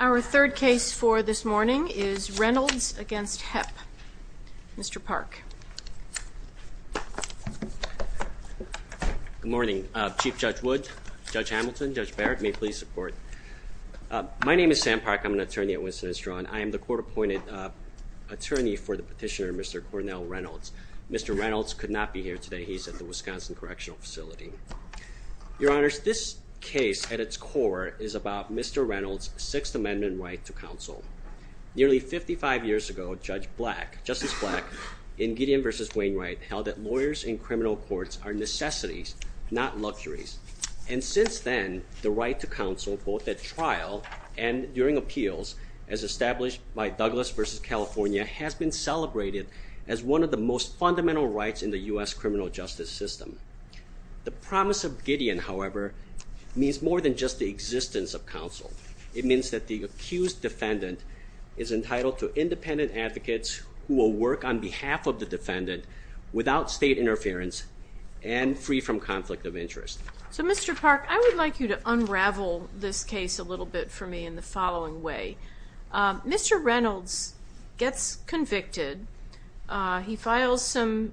Our third case for this morning is Reynolds v. Hepp. Mr. Park. Good morning. Chief Judge Wood, Judge Hamilton, Judge Barrett, may please support. My name is Sam Park. I'm an attorney at Winston and Strachan. I am the court-appointed attorney for the petitioner, Mr. Cornell Reynolds. Mr. Reynolds could not be here today. He's at the Wisconsin Correctional Facility. Your Honors, this case, at its core, is about Mr. Reynolds' Sixth Amendment right to counsel. Nearly 55 years ago, Judge Black, Justice and Gideon v. Wainwright held that lawyers in criminal courts are necessities, not luxuries. And since then, the right to counsel, both at trial and during appeals, as established by Douglas v. California, has been celebrated as one of the most fundamental rights in the U.S. criminal justice system. The promise of Gideon, however, means more than just the existence of counsel. It means that the accused defendant is entitled to independent advocates who will work on behalf of the defendant without state interference and free from conflict of interest. So, Mr. Park, I would like you to unravel this case a little bit for me in the following way. Mr. Reynolds gets convicted. He files some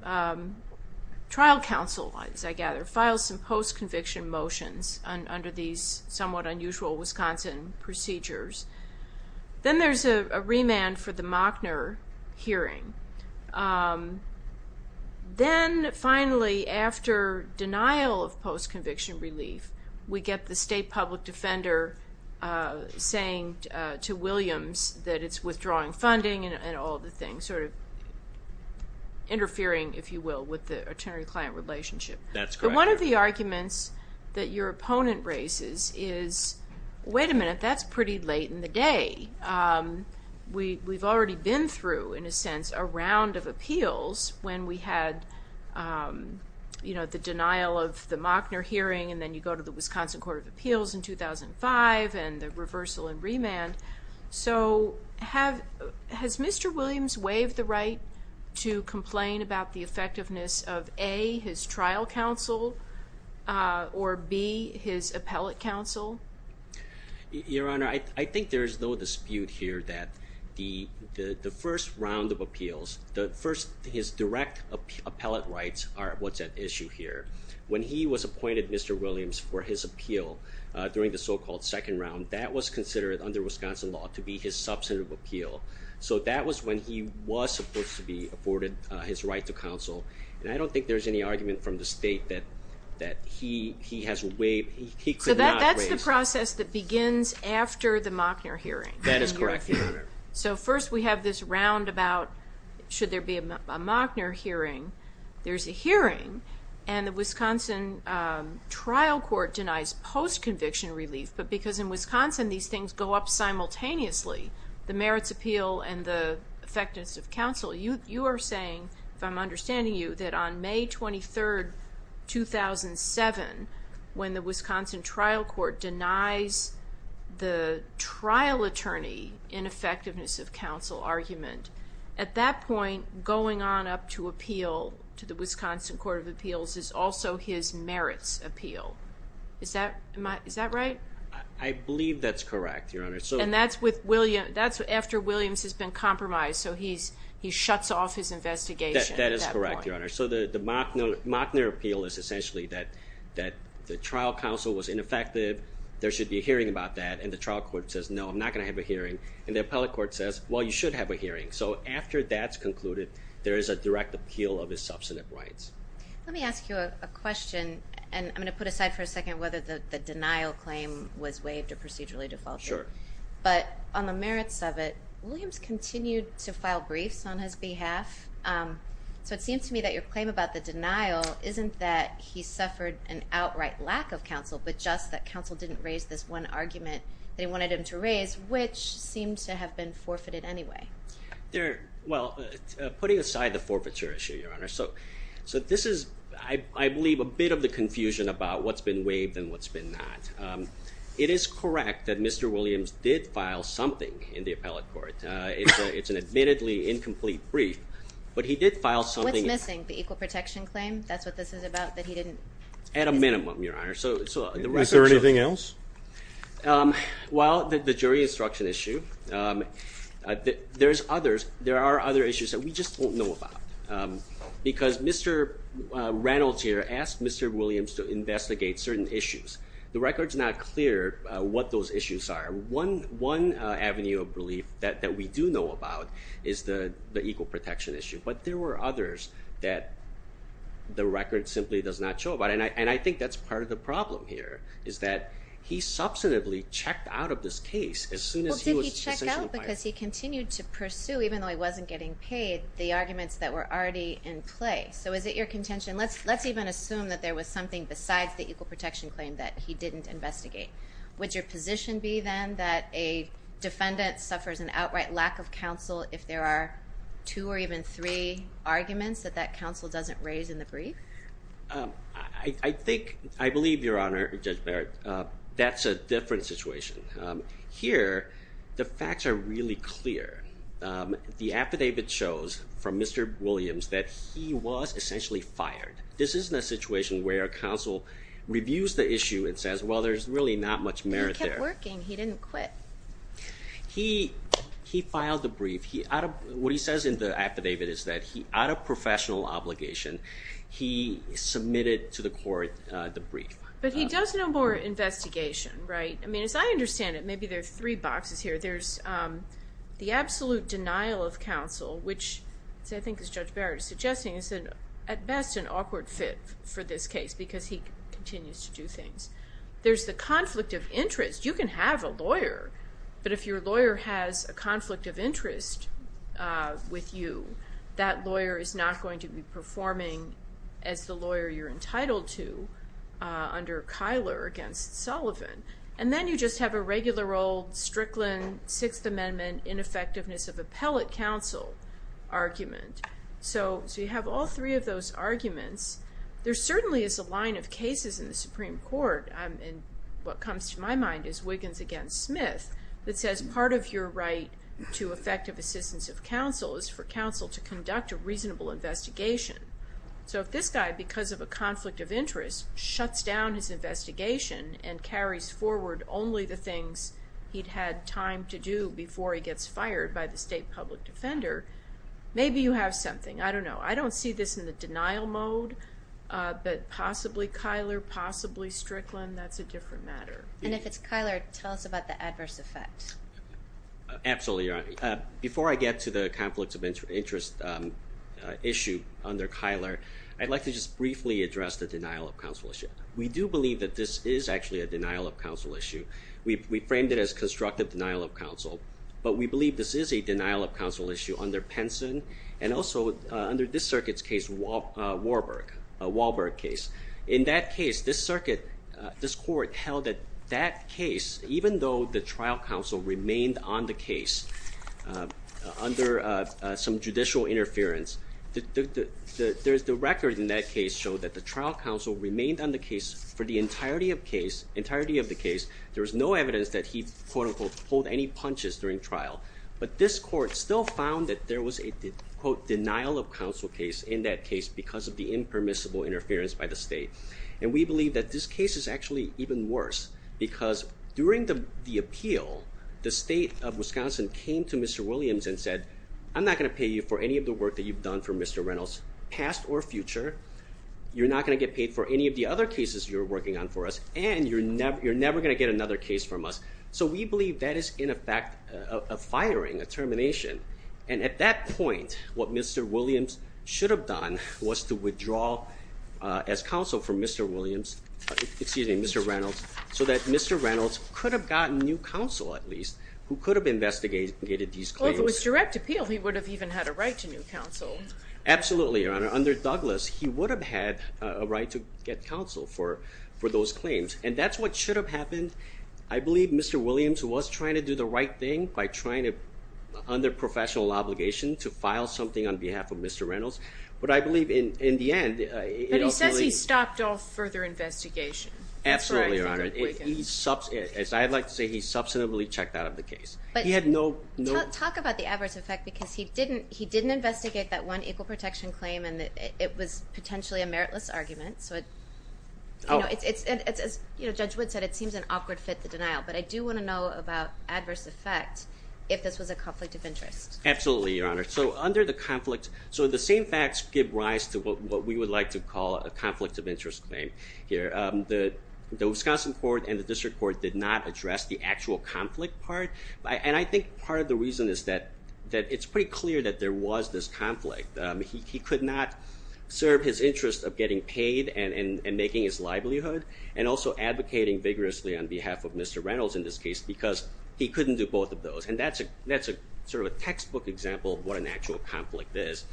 trial counsel, I gather, files some post-conviction motions under these somewhat unusual Wisconsin procedures. Then there's a remand for the hearing. Then, finally, after denial of post-conviction relief, we get the state public defender saying to Williams that it's withdrawing funding and all the things, sort of interfering, if you will, with the attorney-client relationship. That's correct. But one of the arguments that your opponent raises is, wait a minute, that's pretty late in the day. We've already been through, in a sense, a round of appeals when we had, you know, the denial of the Mockner hearing and then you go to the Wisconsin Court of Appeals in 2005 and the reversal and remand. So, has Mr. Williams waived the right to complain about the effectiveness of, A, his trial counsel or, B, his appellate counsel? Your Honor, I think there's no dispute here that the first round of appeals, his direct appellate rights are what's at issue here. When he was appointed, Mr. Williams, for his appeal during the so-called second round, that was considered, under Wisconsin law, to be his substantive appeal. So that was when he was supposed to be afforded his right to counsel. And I don't think there's any argument from the state that he has waived, he could not waive. So that's the process that begins after the Mockner hearing. That is correct, Your Honor. So first we have this round about, should there be a Mockner hearing? There's a hearing and the Wisconsin trial court denies post-conviction relief, but because in Wisconsin these things go up simultaneously, the merits appeal and the effectiveness of counsel, you are saying, if I'm understanding you, that on May 23rd, 2007, when the Wisconsin trial court denies the trial attorney in effectiveness of counsel argument, at that point, going on up to appeal to the Wisconsin Court of Appeals is also his merits appeal. Is that right? I believe that's correct, Your Honor. And that's after Williams has been compromised, so he shuts off his investigation at that point. That is correct, Your Honor. So the Mockner appeal is essentially that the trial counsel was ineffective, there should be a hearing about that, and the trial court says, no, I'm not going to have a hearing. And the appellate court says, well, you should have a hearing. So after that's concluded, there is a direct appeal of his substantive rights. Let me ask you a question, and I'm going to put aside for a second whether the denial claim was waived or procedurally defaulted. Sure. But on the merits of it, Williams continued to file briefs on his behalf. So it seems to me that your claim about the denial isn't that he suffered an outright lack of counsel, but just that counsel didn't raise this one argument that he wanted him to raise, which seems to have been forfeited anyway. Well, putting aside the forfeiture issue, Your Honor, so this is, I believe, a bit of the confusion about what's been waived and what's been not. It is correct that Mr. Williams did file something in the appellate court. It's an admittedly incomplete brief, but he did file something. What's missing? The equal protection claim? That's what this is about, that he didn't? At a minimum, Your Honor. Is there anything else? Well, the jury instruction issue, there are other issues that we just don't know about. Because Mr. Reynolds here asked Mr. Williams to investigate certain issues. The record's not clear what those issues are. One avenue of relief that we do know about is the equal protection issue. But there were others that the record simply does not show about. And I think that's part of the problem here, is that he substantively checked out of this case as soon as he was essentially fired. Well, did he check out? Because he continued to pursue, even though he wasn't getting paid, the arguments that were already in play. So is it your contention? Let's even assume that there was something besides the equal protection claim that he didn't investigate. Would your position be then that a defendant suffers an outright lack of counsel if there are two or even three arguments that that counsel doesn't raise in the brief? I think, I believe, Your Honor, Judge Barrett, that's a different situation. Here, the facts are really clear. The affidavit shows from Mr. Williams that he was essentially fired. This isn't a situation where counsel reviews the issue and says, well, there's really not much merit there. He kept working. He didn't quit. He filed the brief. What he says in the affidavit is that out of professional obligation, he submitted to the court the brief. But he does no more investigation, right? I mean, as I understand it, maybe there's three boxes here. There's the absolute denial of counsel, which I think as Judge Barrett is suggesting is at best an awkward fit for this case because he continues to do things. There's the conflict of interest. You can have a lawyer, but if your lawyer has a conflict of interest with you, that lawyer is not going to be performing as the lawyer you're entitled to under Kyler against Sullivan. And then you just have a regular old Strickland Sixth Amendment ineffectiveness of appellate counsel argument. So you have all three of those arguments. There certainly is a line of cases in the Supreme Court, and what comes to my mind is Wiggins against Smith, that says part of your right to effective assistance of counsel is for counsel to conduct a reasonable investigation. So if this guy, because of a conflict of interest, shuts down his investigation and carries forward only the things he'd had time to do before he gets fired by the state public defender, maybe you have something. I don't know. I don't see this in the denial mode, but possibly Kyler, possibly Strickland, that's a different matter. And if it's Kyler, tell us about the adverse effect. Absolutely. Before I get to the conflict of interest issue under Kyler, I'd like to just briefly address the denial of counsel issue. We do believe that this is actually a denial of counsel issue. We framed it as constructive denial of counsel, but we believe this is a denial of counsel issue under Penson and also under this circuit's case, Wahlberg case. In that case, this circuit, this court held that that case, even though the trial counsel remained on the case under some judicial interference, the record in that case showed that the trial entirety of the case, there was no evidence that he, quote unquote, pulled any punches during trial. But this court still found that there was a, quote, denial of counsel case in that case because of the impermissible interference by the state. And we believe that this case is actually even worse because during the appeal, the state of Wisconsin came to Mr. Williams and said, I'm not going to pay you for any of the work that you've done for Mr. Reynolds, past or future. You're not going to get paid for any of the other cases you're working on for us, and you're never going to get another case from us. So we believe that is, in effect, a firing, a termination. And at that point, what Mr. Williams should have done was to withdraw as counsel from Mr. Williams, excuse me, Mr. Reynolds, so that Mr. Reynolds could have gotten new counsel, at least, who could have investigated these claims. Well, if it was direct appeal, he would have even had a right to new counsel. Absolutely, Your Honor. Under Douglas, he would have had a right to get counsel for those claims. And that's what should have happened. I believe Mr. Williams was trying to do the right thing by trying to, under professional obligation, to file something on behalf of Mr. Reynolds. But I believe in the end, it ultimately... But he says he stopped off further investigation. Absolutely, Your Honor. As I'd like to say, he substantively checked out of the case. Talk about the adverse effect, because he didn't investigate that one equal protection claim, and it was potentially a meritless argument. As Judge Wood said, it seems an awkward fit, the denial. But I do want to know about adverse effect, if this was a conflict of interest. Absolutely, Your Honor. So under the conflict... So the same facts give rise to what we would like to call a conflict of interest claim here. The Wisconsin court and the district court did not address the actual conflict part. And I think part of the reason is that it's pretty clear that there was this conflict. He could not serve his interest of getting paid and making his livelihood, and also advocating vigorously on behalf of Mr. Reynolds in this case, because he couldn't do both of those. And that's sort of a textbook example of what an actual conflict is.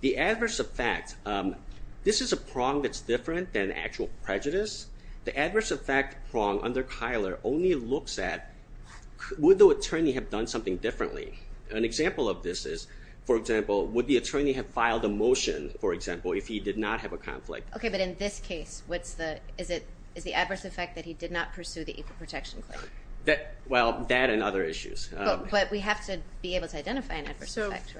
The adverse effect, this is a prong that's different than actual prejudice. The adverse effect prong under Kyler only looks at, would the attorney have done something differently? An example of this is, for example, would the attorney have filed a motion, for example, if he did not have a conflict? Okay, but in this case, is the adverse effect that he did not pursue the equal protection claim? Well, that and other issues. But we have to be able to identify an adverse effect,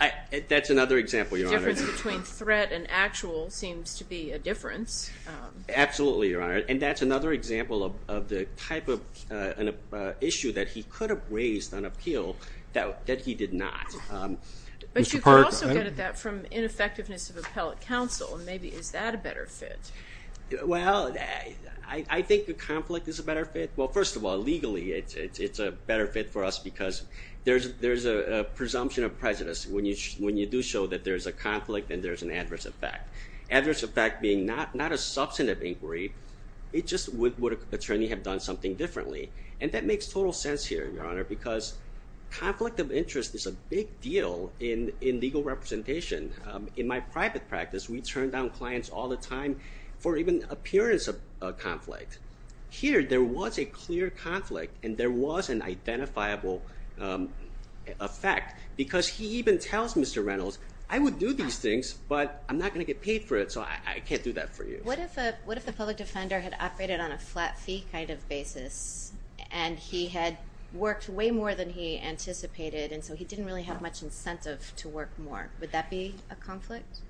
right? That's another example, Your Honor. The difference between threat and actual seems to be a difference. Absolutely, Your Honor. And that's another example of the type of issue that he could have raised on appeal that he did not. But you could also get at that from ineffectiveness of appellate counsel, and maybe is that a better fit? Well, I think the conflict is a better fit. Well, first of all, legally, it's a better fit for us because there's a presumption of prejudice when you do show that there's a conflict and there's an adverse effect. Adverse effect being not a substantive inquiry, it's just would an attorney have done something differently? And that makes total sense here, Your Honor, because conflict of interest is a big deal in legal representation. In my private practice, we turn down clients all the time for even appearance of conflict. Here, there was a clear conflict and there was an identifiable effect because he even tells Mr. Reynolds, I would do these things, but I'm not going to get paid for it, so I can't do that for you. What if the public defender had operated on a flat fee kind of basis and he had worked way more than he anticipated, and so he didn't really have much incentive to work more? Would that be a conflict?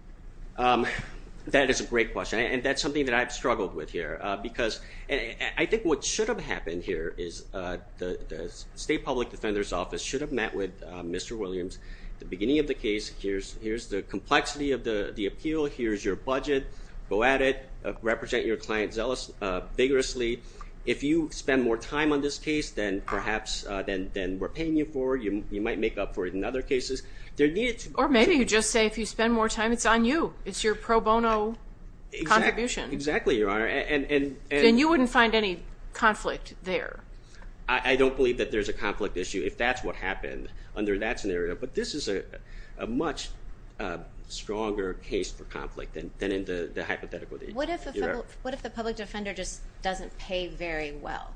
That is a great question, and that's something that I've struggled with here because I think what should have happened here is the state public defender's office should have met with Mr. Williams at the beginning of the case. Here's the complexity of the appeal. Here's your budget. Go at it. Represent your client vigorously. If you spend more time on this case than perhaps we're paying you for, you might make up for it in other cases. Or maybe you just say if you spend more time, it's on you. It's your pro bono contribution. Exactly, Your Honor. Then you wouldn't find any conflict there. I don't believe that there's a conflict issue if that's what happened under that scenario, but this is a much stronger case for conflict than in the hypothetical. What if the public defender just doesn't pay very well,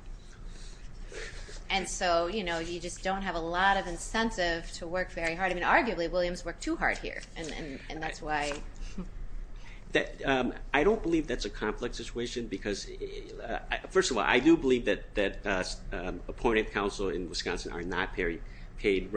and so you just don't have a lot of incentive to work very hard? Arguably, Williams worked too hard here, and that's why. I don't believe that's a conflict situation because, first of all, I do believe that appointed counsel in Wisconsin are not paid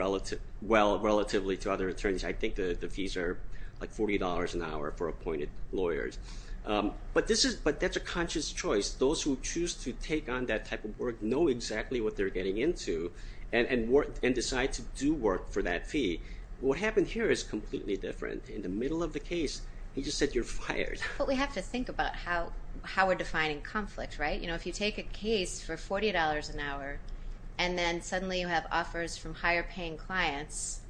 well relatively to other attorneys. I think the fees are like $40 an hour for appointed lawyers, but that's a conscious choice. Those who choose to take on that type of work know exactly what they're getting into and decide to do work for that fee. What happened here is completely different. In the middle of the case, he just said you're fired. But we have to think about how we're defining conflict, right? If you take a case for $40 an hour, and then suddenly you have offers from higher paying clients,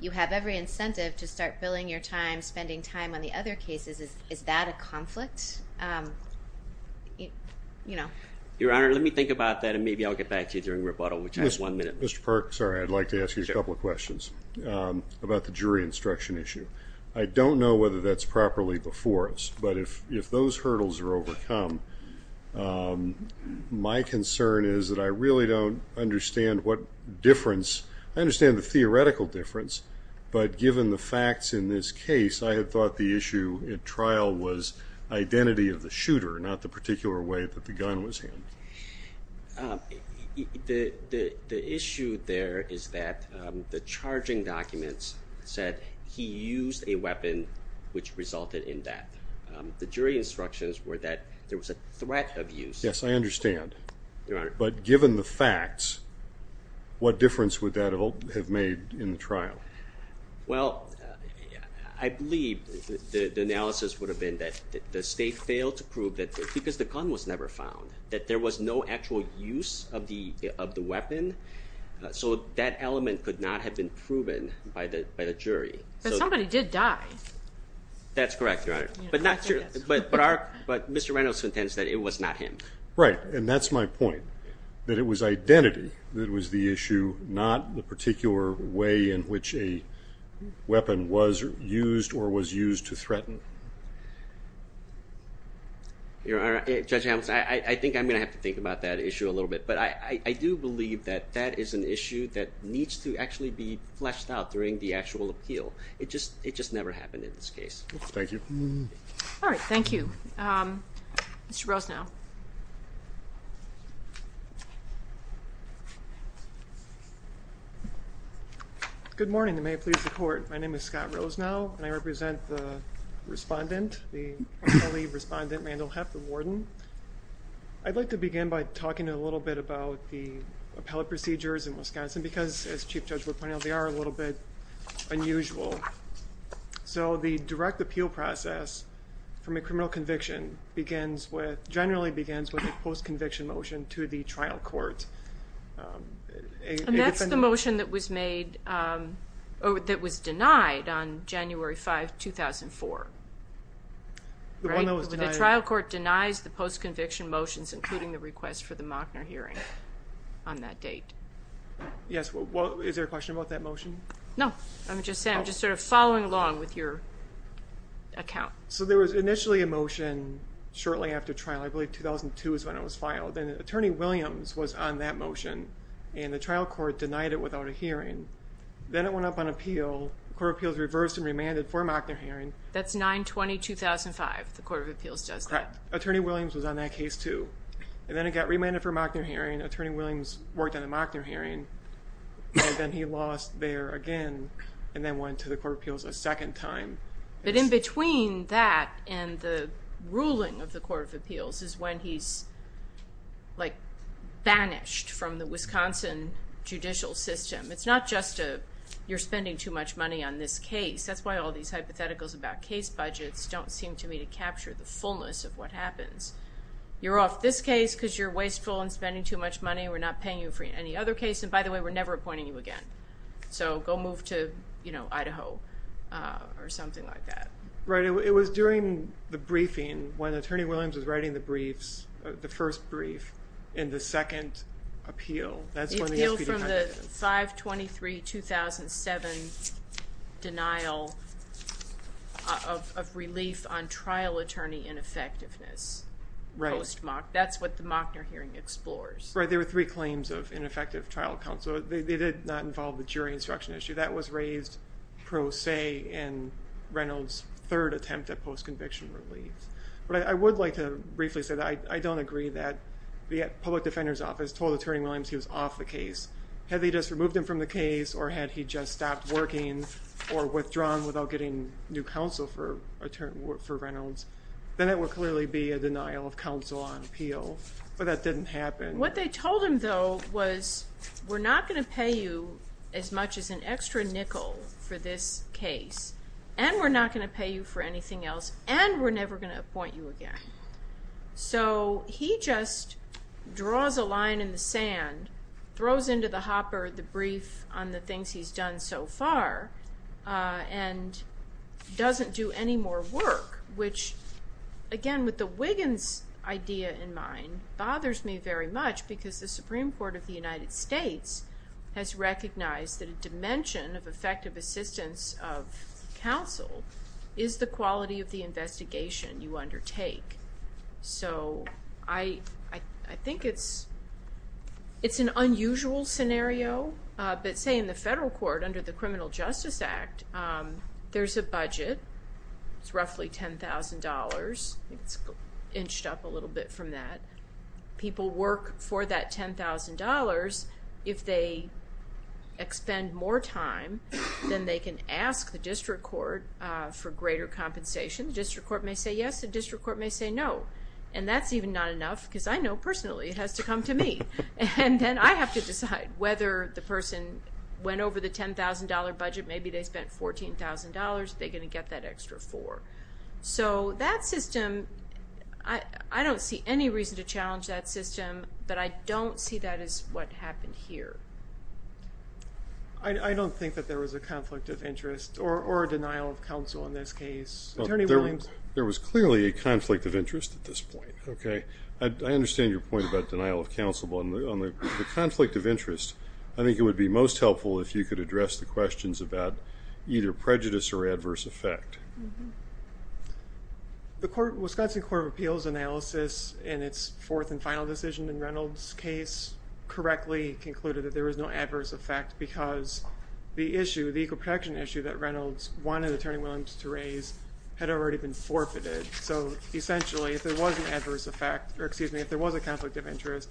you have every incentive to start billing your time, spending time on the other cases. Is that a conflict? Your Honor, let me think about that, and maybe I'll get back to you during rebuttal, which I'm sorry, I'd like to ask you a couple of questions about the jury instruction issue. I don't know whether that's properly before us, but if those hurdles are overcome, my concern is that I really don't understand what difference. I understand the theoretical difference, but given the facts in this case, I had thought the issue at trial was identity of the shooter, not the particular way that the gun was handled. The issue there is that the charging documents said he used a weapon which resulted in that. The jury instructions were that there was a threat of use. Yes, I understand. Your Honor. But given the facts, what difference would that have made in the trial? Well, I believe the analysis would have been that the state failed to prove that because the gun was never found, that there was no actual use of the weapon, so that element could not have been proven by the jury. But somebody did die. That's correct, Your Honor, but Mr. Reynolds intends that it was not him. Right, and that's my point, that it was identity that was the issue, not the particular way Your Honor, Judge Hamilton, I think I'm going to have to think about that issue a little bit, but I do believe that that is an issue that needs to actually be fleshed out during the actual appeal. It just never happened in this case. Thank you. All right, thank you. Mr. Roseneau. Good morning, and may it please the Court. My name is Scott Roseneau, and I represent the respondent, the early respondent, Randall Heff, the warden. I'd like to begin by talking a little bit about the appellate procedures in Wisconsin because, as Chief Judge Wood pointed out, they are a little bit unusual. So the direct appeal process from a criminal conviction generally begins with a post-conviction motion to the trial court. And that's the motion that was denied on January 5, 2004. The one that was denied? The trial court denies the post-conviction motions, including the request for the Mockner hearing, on that date. Yes, is there a question about that motion? No, I'm just following along with your account. So there was initially a motion shortly after trial, I believe 2002 is when it was filed, and Attorney Williams was on that motion, and the trial court denied it without a hearing. Then it went up on appeal. The Court of Appeals reversed and remanded for a Mockner hearing. That's 9-20-2005. The Court of Appeals does that. Correct. Attorney Williams was on that case too. And then it got remanded for a Mockner hearing. Attorney Williams worked on a Mockner hearing, and then he lost there again and then went to the Court of Appeals a second time. But in between that and the ruling of the Court of Appeals is when he's, like, banished from the Wisconsin judicial system. It's not just you're spending too much money on this case. That's why all these hypotheticals about case budgets don't seem to me to capture the fullness of what happens. You're off this case because you're wasteful and spending too much money. We're not paying you for any other case. And, by the way, we're never appointing you again. So go move to, you know, Idaho or something like that. Right. It was during the briefing when Attorney Williams was writing the briefs, the first brief, in the second appeal. That's when the SPD Congress did it. The appeal from the 5-23-2007 denial of relief on trial attorney ineffectiveness post-Mockner. That's what the Mockner hearing explores. Right. There were three claims of ineffective trial counsel. They did not involve the jury instruction issue. That was raised pro se in Reynolds' third attempt at post-conviction relief. But I would like to briefly say that I don't agree that the public defender's office told Attorney Williams he was off the case. Had they just removed him from the case or had he just stopped working or withdrawn without getting new counsel for Reynolds, then it would clearly be a denial of counsel on appeal. But that didn't happen. What they told him, though, was we're not going to pay you as much as an extra nickel for this case, and we're not going to pay you for anything else, and we're never going to appoint you again. So he just draws a line in the sand, throws into the hopper the brief on the things he's done so far, and doesn't do any more work, which, again, with the Wiggins idea in mind, bothers me very much because the Supreme Court of the United States has recognized that a dimension of effective assistance of counsel is the quality of the investigation you undertake. So I think it's an unusual scenario. But, say, in the federal court under the Criminal Justice Act, there's a budget. It's roughly $10,000. It's inched up a little bit from that. People work for that $10,000. If they expend more time, then they can ask the district court for greater compensation. The district court may say yes. The district court may say no. And that's even not enough because I know personally it has to come to me. And then I have to decide whether the person went over the $10,000 budget. Maybe they spent $14,000. Are they going to get that extra four? So that system, I don't see any reason to challenge that system, but I don't see that as what happened here. I don't think that there was a conflict of interest or a denial of counsel in this case. Attorney Williams? There was clearly a conflict of interest at this point. I understand your point about denial of counsel, but on the conflict of interest, I think it would be most helpful if you could address the questions about either prejudice or adverse effect. The Wisconsin Court of Appeals analysis in its fourth and final decision in Reynolds' case correctly concluded that there was no adverse effect because the issue, the equal protection issue that Reynolds wanted Attorney Williams to raise had already been forfeited. So essentially if there was an adverse effect, or excuse me, if there was a conflict of interest,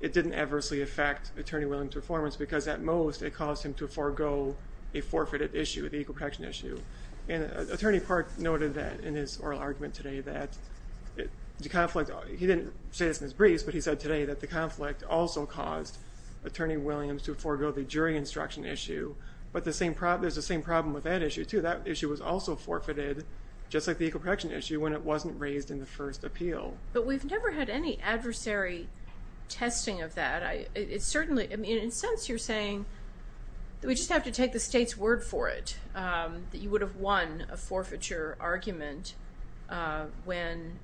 it didn't adversely affect Attorney Williams' performance because at most it caused him to forego a forfeited issue, the equal protection issue. And Attorney Park noted that in his oral argument today that the conflict, he didn't say this in his briefs, but he said today that the conflict also caused Attorney Williams to forego the jury instruction issue. But there's the same problem with that issue, too. That issue was also forfeited, just like the equal protection issue, when it wasn't raised in the first appeal. But we've never had any adversary testing of that. It certainly, I mean, in a sense you're saying that we just have to take the state's word for it, that you would have won a forfeiture argument when,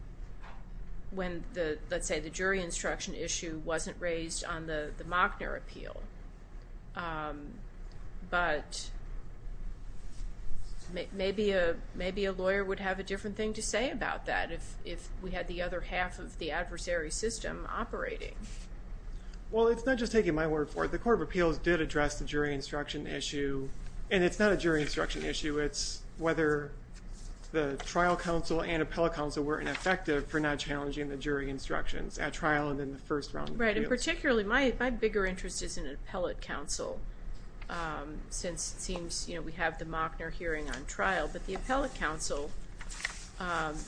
let's say, the jury instruction issue wasn't raised on the Mockner appeal. But maybe a lawyer would have a different thing to say about that if we had the other half of the adversary system operating. Well, it's not just taking my word for it. The Court of Appeals did address the jury instruction issue. And it's not a jury instruction issue. It's whether the trial counsel and appellate counsel were ineffective for not challenging the jury instructions at trial and in the first round of appeals. Right, and particularly my bigger interest is in appellate counsel since it seems we have the Mockner hearing on trial. But the appellate counsel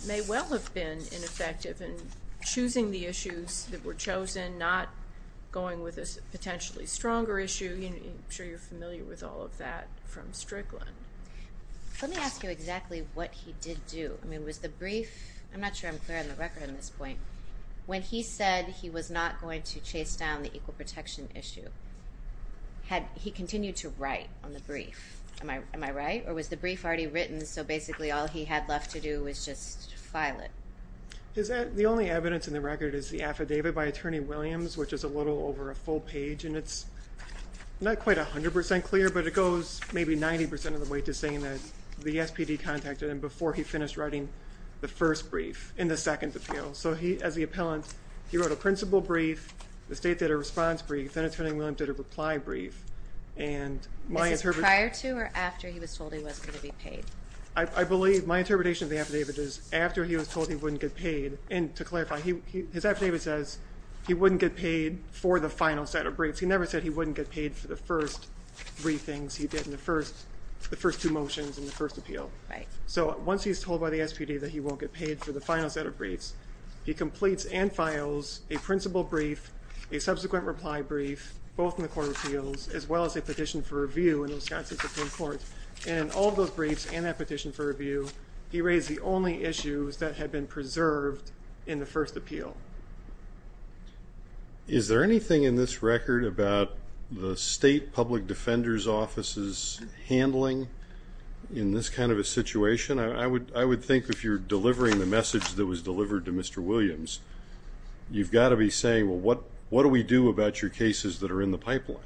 may well have been ineffective in choosing the issues that were chosen, not going with a potentially stronger issue. I'm sure you're familiar with all of that from Strickland. Let me ask you exactly what he did do. I mean, was the brief, I'm not sure I'm clear on the record on this point, when he said he was not going to chase down the equal protection issue, had he continued to write on the brief? Am I right? Or was the brief already written so basically all he had left to do was just file it? The only evidence in the record is the affidavit by Attorney Williams, which is a little over a full page, and it's not quite 100% clear, but it goes maybe 90% of the way to saying that the SPD contacted him before he finished writing the first brief in the second appeal. So he, as the appellant, he wrote a principle brief, the state did a response brief, and Attorney Williams did a reply brief. Is this prior to or after he was told he was going to be paid? I believe my interpretation of the affidavit is after he was told he wouldn't get paid, and to clarify, his affidavit says he wouldn't get paid for the final set of briefs. He never said he wouldn't get paid for the first three things he did in the first two motions in the first appeal. Right. So once he's told by the SPD that he won't get paid for the final set of briefs, he completes and files a principle brief, a subsequent reply brief, both in the court of appeals, as well as a petition for review in the Wisconsin Supreme Court. And in all those briefs and that petition for review, he raised the only issues that had been preserved in the first appeal. Is there anything in this record about the state public defender's office's handling in this kind of a situation? I would think if you're delivering the message that was delivered to Mr. Williams, you've got to be saying, well, what do we do about your cases that are in the pipeline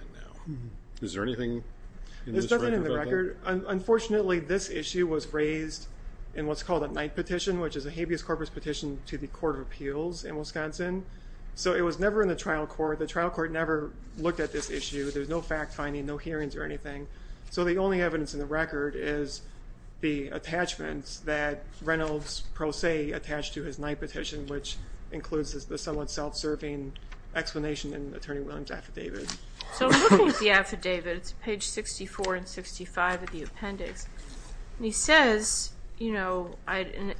now? Is there anything in this record about that? There's nothing in the record. Unfortunately, this issue was raised in what's called a night petition, which is a habeas corpus petition to the court of appeals in Wisconsin. So it was never in the trial court. The trial court never looked at this issue. There's no fact-finding, no hearings or anything. So the only evidence in the record is the attachments that Reynolds, pro se, attached to his night petition, which includes the somewhat self-serving explanation in Attorney Williams' affidavit. So looking at the affidavit, it's page 64 and 65 of the appendix, and he says, in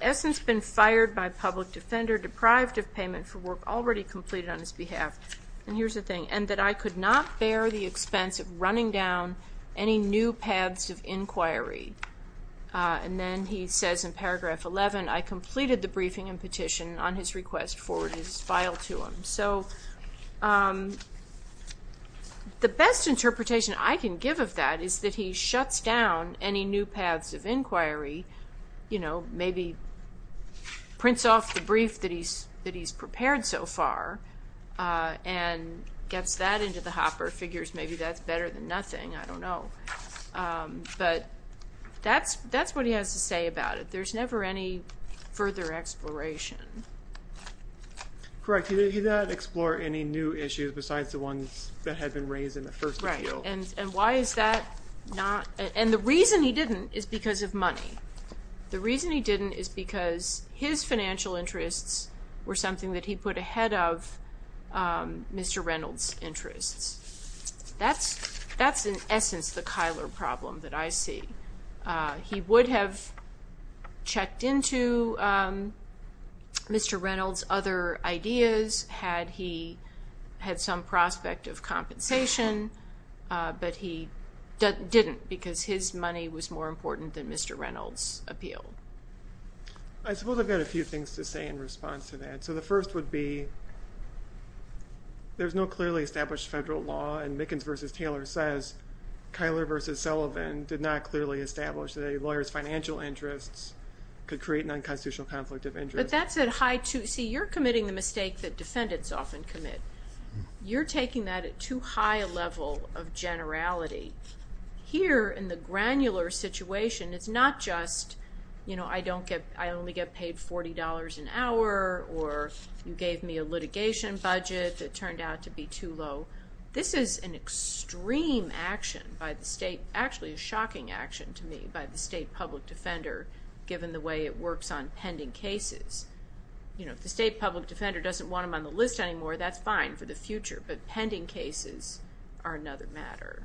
essence, been fired by public defender, deprived of payment for work already completed on his behalf, and here's the thing, and that I could not bear the expense of running down any new paths of inquiry. And then he says in paragraph 11, I completed the briefing and petition on his request, forwarded his file to him. So the best interpretation I can give of that is that he shuts down any new paths of inquiry, maybe prints off the brief that he's prepared so far and gets that into the hopper, figures maybe that's better than nothing, I don't know. But that's what he has to say about it. There's never any further exploration. Correct. He did not explore any new issues besides the ones that had been raised in the first appeal. Right. And why is that not? And the reason he didn't is because of money. The reason he didn't is because his financial interests were something that he put ahead of Mr. Reynolds' interests. That's in essence the Kyler problem that I see. He would have checked into Mr. Reynolds' other ideas had he had some prospect of compensation, but he didn't because his money was more important than Mr. Reynolds' appeal. I suppose I've got a few things to say in response to that. So the first would be there's no clearly established federal law, and Mickens v. Taylor says Kyler v. Sullivan did not clearly establish that a lawyer's financial interests could create an unconstitutional conflict of interest. But that's at high too. See, you're committing the mistake that defendants often commit. You're taking that at too high a level of generality. Here in the granular situation, it's not just, you know, I only get paid $40 an hour or you gave me a litigation budget that turned out to be too low. This is an extreme action by the state, actually a shocking action to me by the state public defender given the way it works on pending cases. You know, if the state public defender doesn't want him on the list anymore, that's fine for the future, but pending cases are another matter.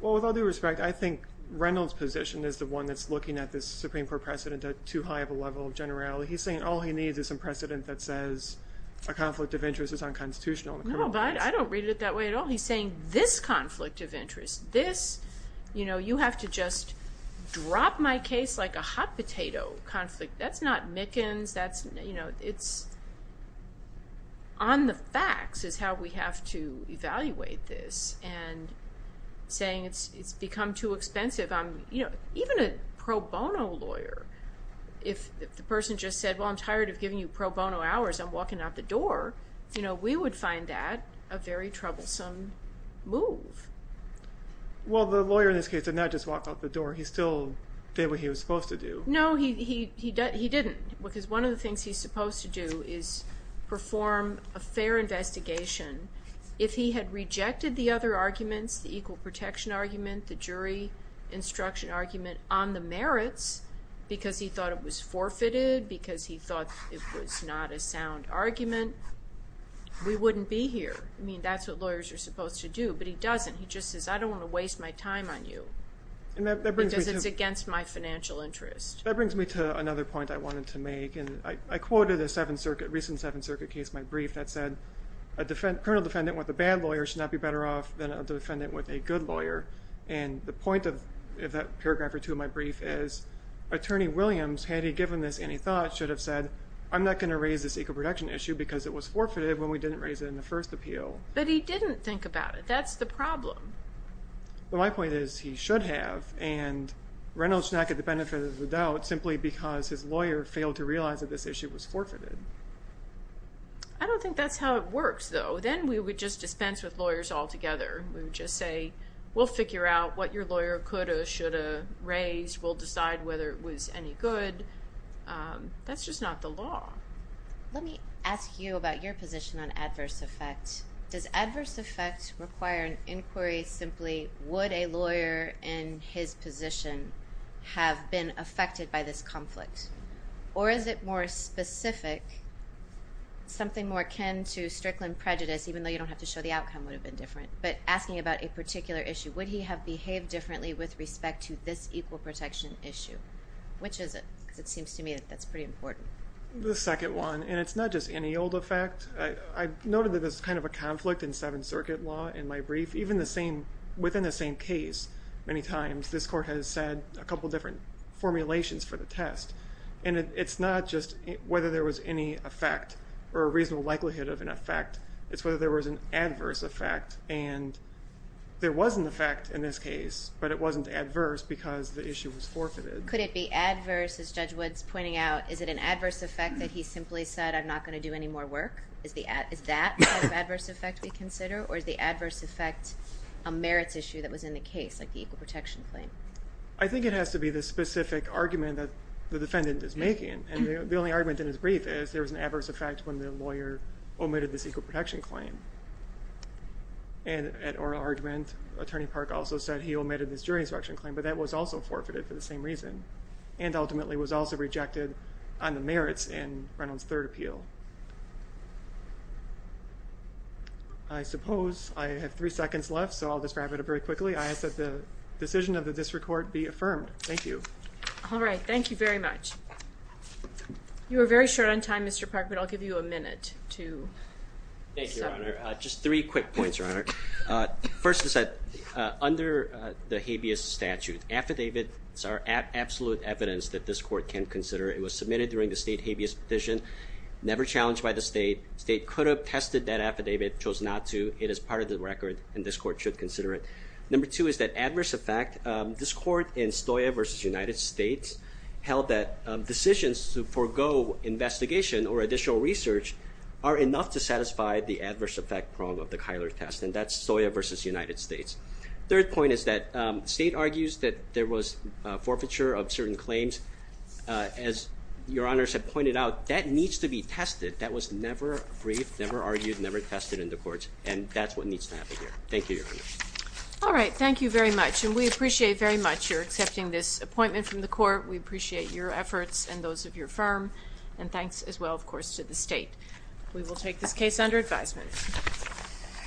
Well, with all due respect, I think Reynolds' position is the one that's looking at this Supreme Court precedent at too high of a level of generality. He's saying all he needs is some precedent that says a conflict of interest is unconstitutional. No, but I don't read it that way at all. He's saying this conflict of interest, this, you know, you have to just drop my case like a hot potato conflict. That's not Mickens, that's, you know, it's on the facts is how we have to evaluate this and saying it's become too expensive. You know, even a pro bono lawyer, if the person just said, well, I'm tired of giving you pro bono hours, I'm walking out the door, you know, we would find that a very troublesome move. Well, the lawyer in this case did not just walk out the door. He still did what he was supposed to do. No, he didn't because one of the things he's supposed to do is perform a fair investigation. If he had rejected the other arguments, the equal protection argument, the jury instruction argument on the merits because he thought it was forfeited, because he thought it was not a sound argument, we wouldn't be here. I mean, that's what lawyers are supposed to do. But he doesn't. He just says, I don't want to waste my time on you because it's against my financial interest. That brings me to another point I wanted to make. And I quoted a recent Seventh Circuit case, my brief, that said a criminal defendant with a bad lawyer should not be better off than a defendant with a good lawyer. And the point of that paragraph or two of my brief is, Attorney Williams, had he given this any thought, should have said, I'm not going to raise this equal protection issue because it was forfeited when we didn't raise it in the first appeal. But he didn't think about it. That's the problem. Well, my point is, he should have. And Reynolds should not get the benefit of the doubt simply because his lawyer failed to realize that this issue was forfeited. I don't think that's how it works, though. Then we would just dispense with lawyers altogether. We would just say, we'll figure out what your lawyer could have, should have raised. We'll decide whether it was any good. That's just not the law. Let me ask you about your position on adverse effect. Does adverse effect require an inquiry? Simply, would a lawyer in his position have been affected by this conflict? Or is it more specific, something more akin to Strickland prejudice, even though you don't have to show the outcome would have been different. But asking about a particular issue, would he have behaved differently with respect to this equal protection issue? Which is it? Because it seems to me that that's pretty important. The second one, and it's not just any old effect. I noted that there's kind of a conflict in Seventh Circuit law in my brief. Even within the same case, many times, this court has said a couple different formulations for the test. And it's not just whether there was any effect or a reasonable likelihood of an effect. It's whether there was an adverse effect. And there was an effect in this case, but it wasn't adverse because the issue was forfeited. Could it be adverse, as Judge Wood's pointing out? Is it an adverse effect that he simply said, I'm not going to do any more work? Is that the adverse effect we consider? Or is the adverse effect a merits issue that was in the case, like the equal protection claim? I think it has to be the specific argument that the defendant is making. And the only argument in his brief is there was an adverse effect when the lawyer omitted this equal protection claim. And at oral argument, Attorney Park also said he omitted this jury instruction claim, but that was also forfeited for the same reason. And ultimately was also rejected on the merits in Reynolds' third appeal. I suppose I have three seconds left, so I'll just wrap it up very quickly. I ask that the decision of the district court be affirmed. Thank you. All right. Thank you very much. You were very short on time, Mr. Park, but I'll give you a minute to. Thank you, Your Honor. Just three quick points, Your Honor. First is that under the habeas statute, affidavits are absolute evidence that this court can consider. It was submitted during the state habeas petition, never challenged by the state. The state could have tested that affidavit, chose not to. It is part of the record, and this court should consider it. Number two is that adverse effect. This court in Stoya v. United States held that decisions to forego investigation or additional research are enough to satisfy the adverse effect prong of the Kyler test, and that's Stoya v. United States. Third point is that the state argues that there was forfeiture of certain claims. As Your Honor has pointed out, that needs to be tested. That was never briefed, never argued, never tested in the courts, and that's what needs to happen here. Thank you, Your Honor. All right. Thank you very much, and we appreciate very much your accepting this appointment from the court. We appreciate your efforts and those of your firm, and thanks as well, of course, to the state. We will take this case under advisement.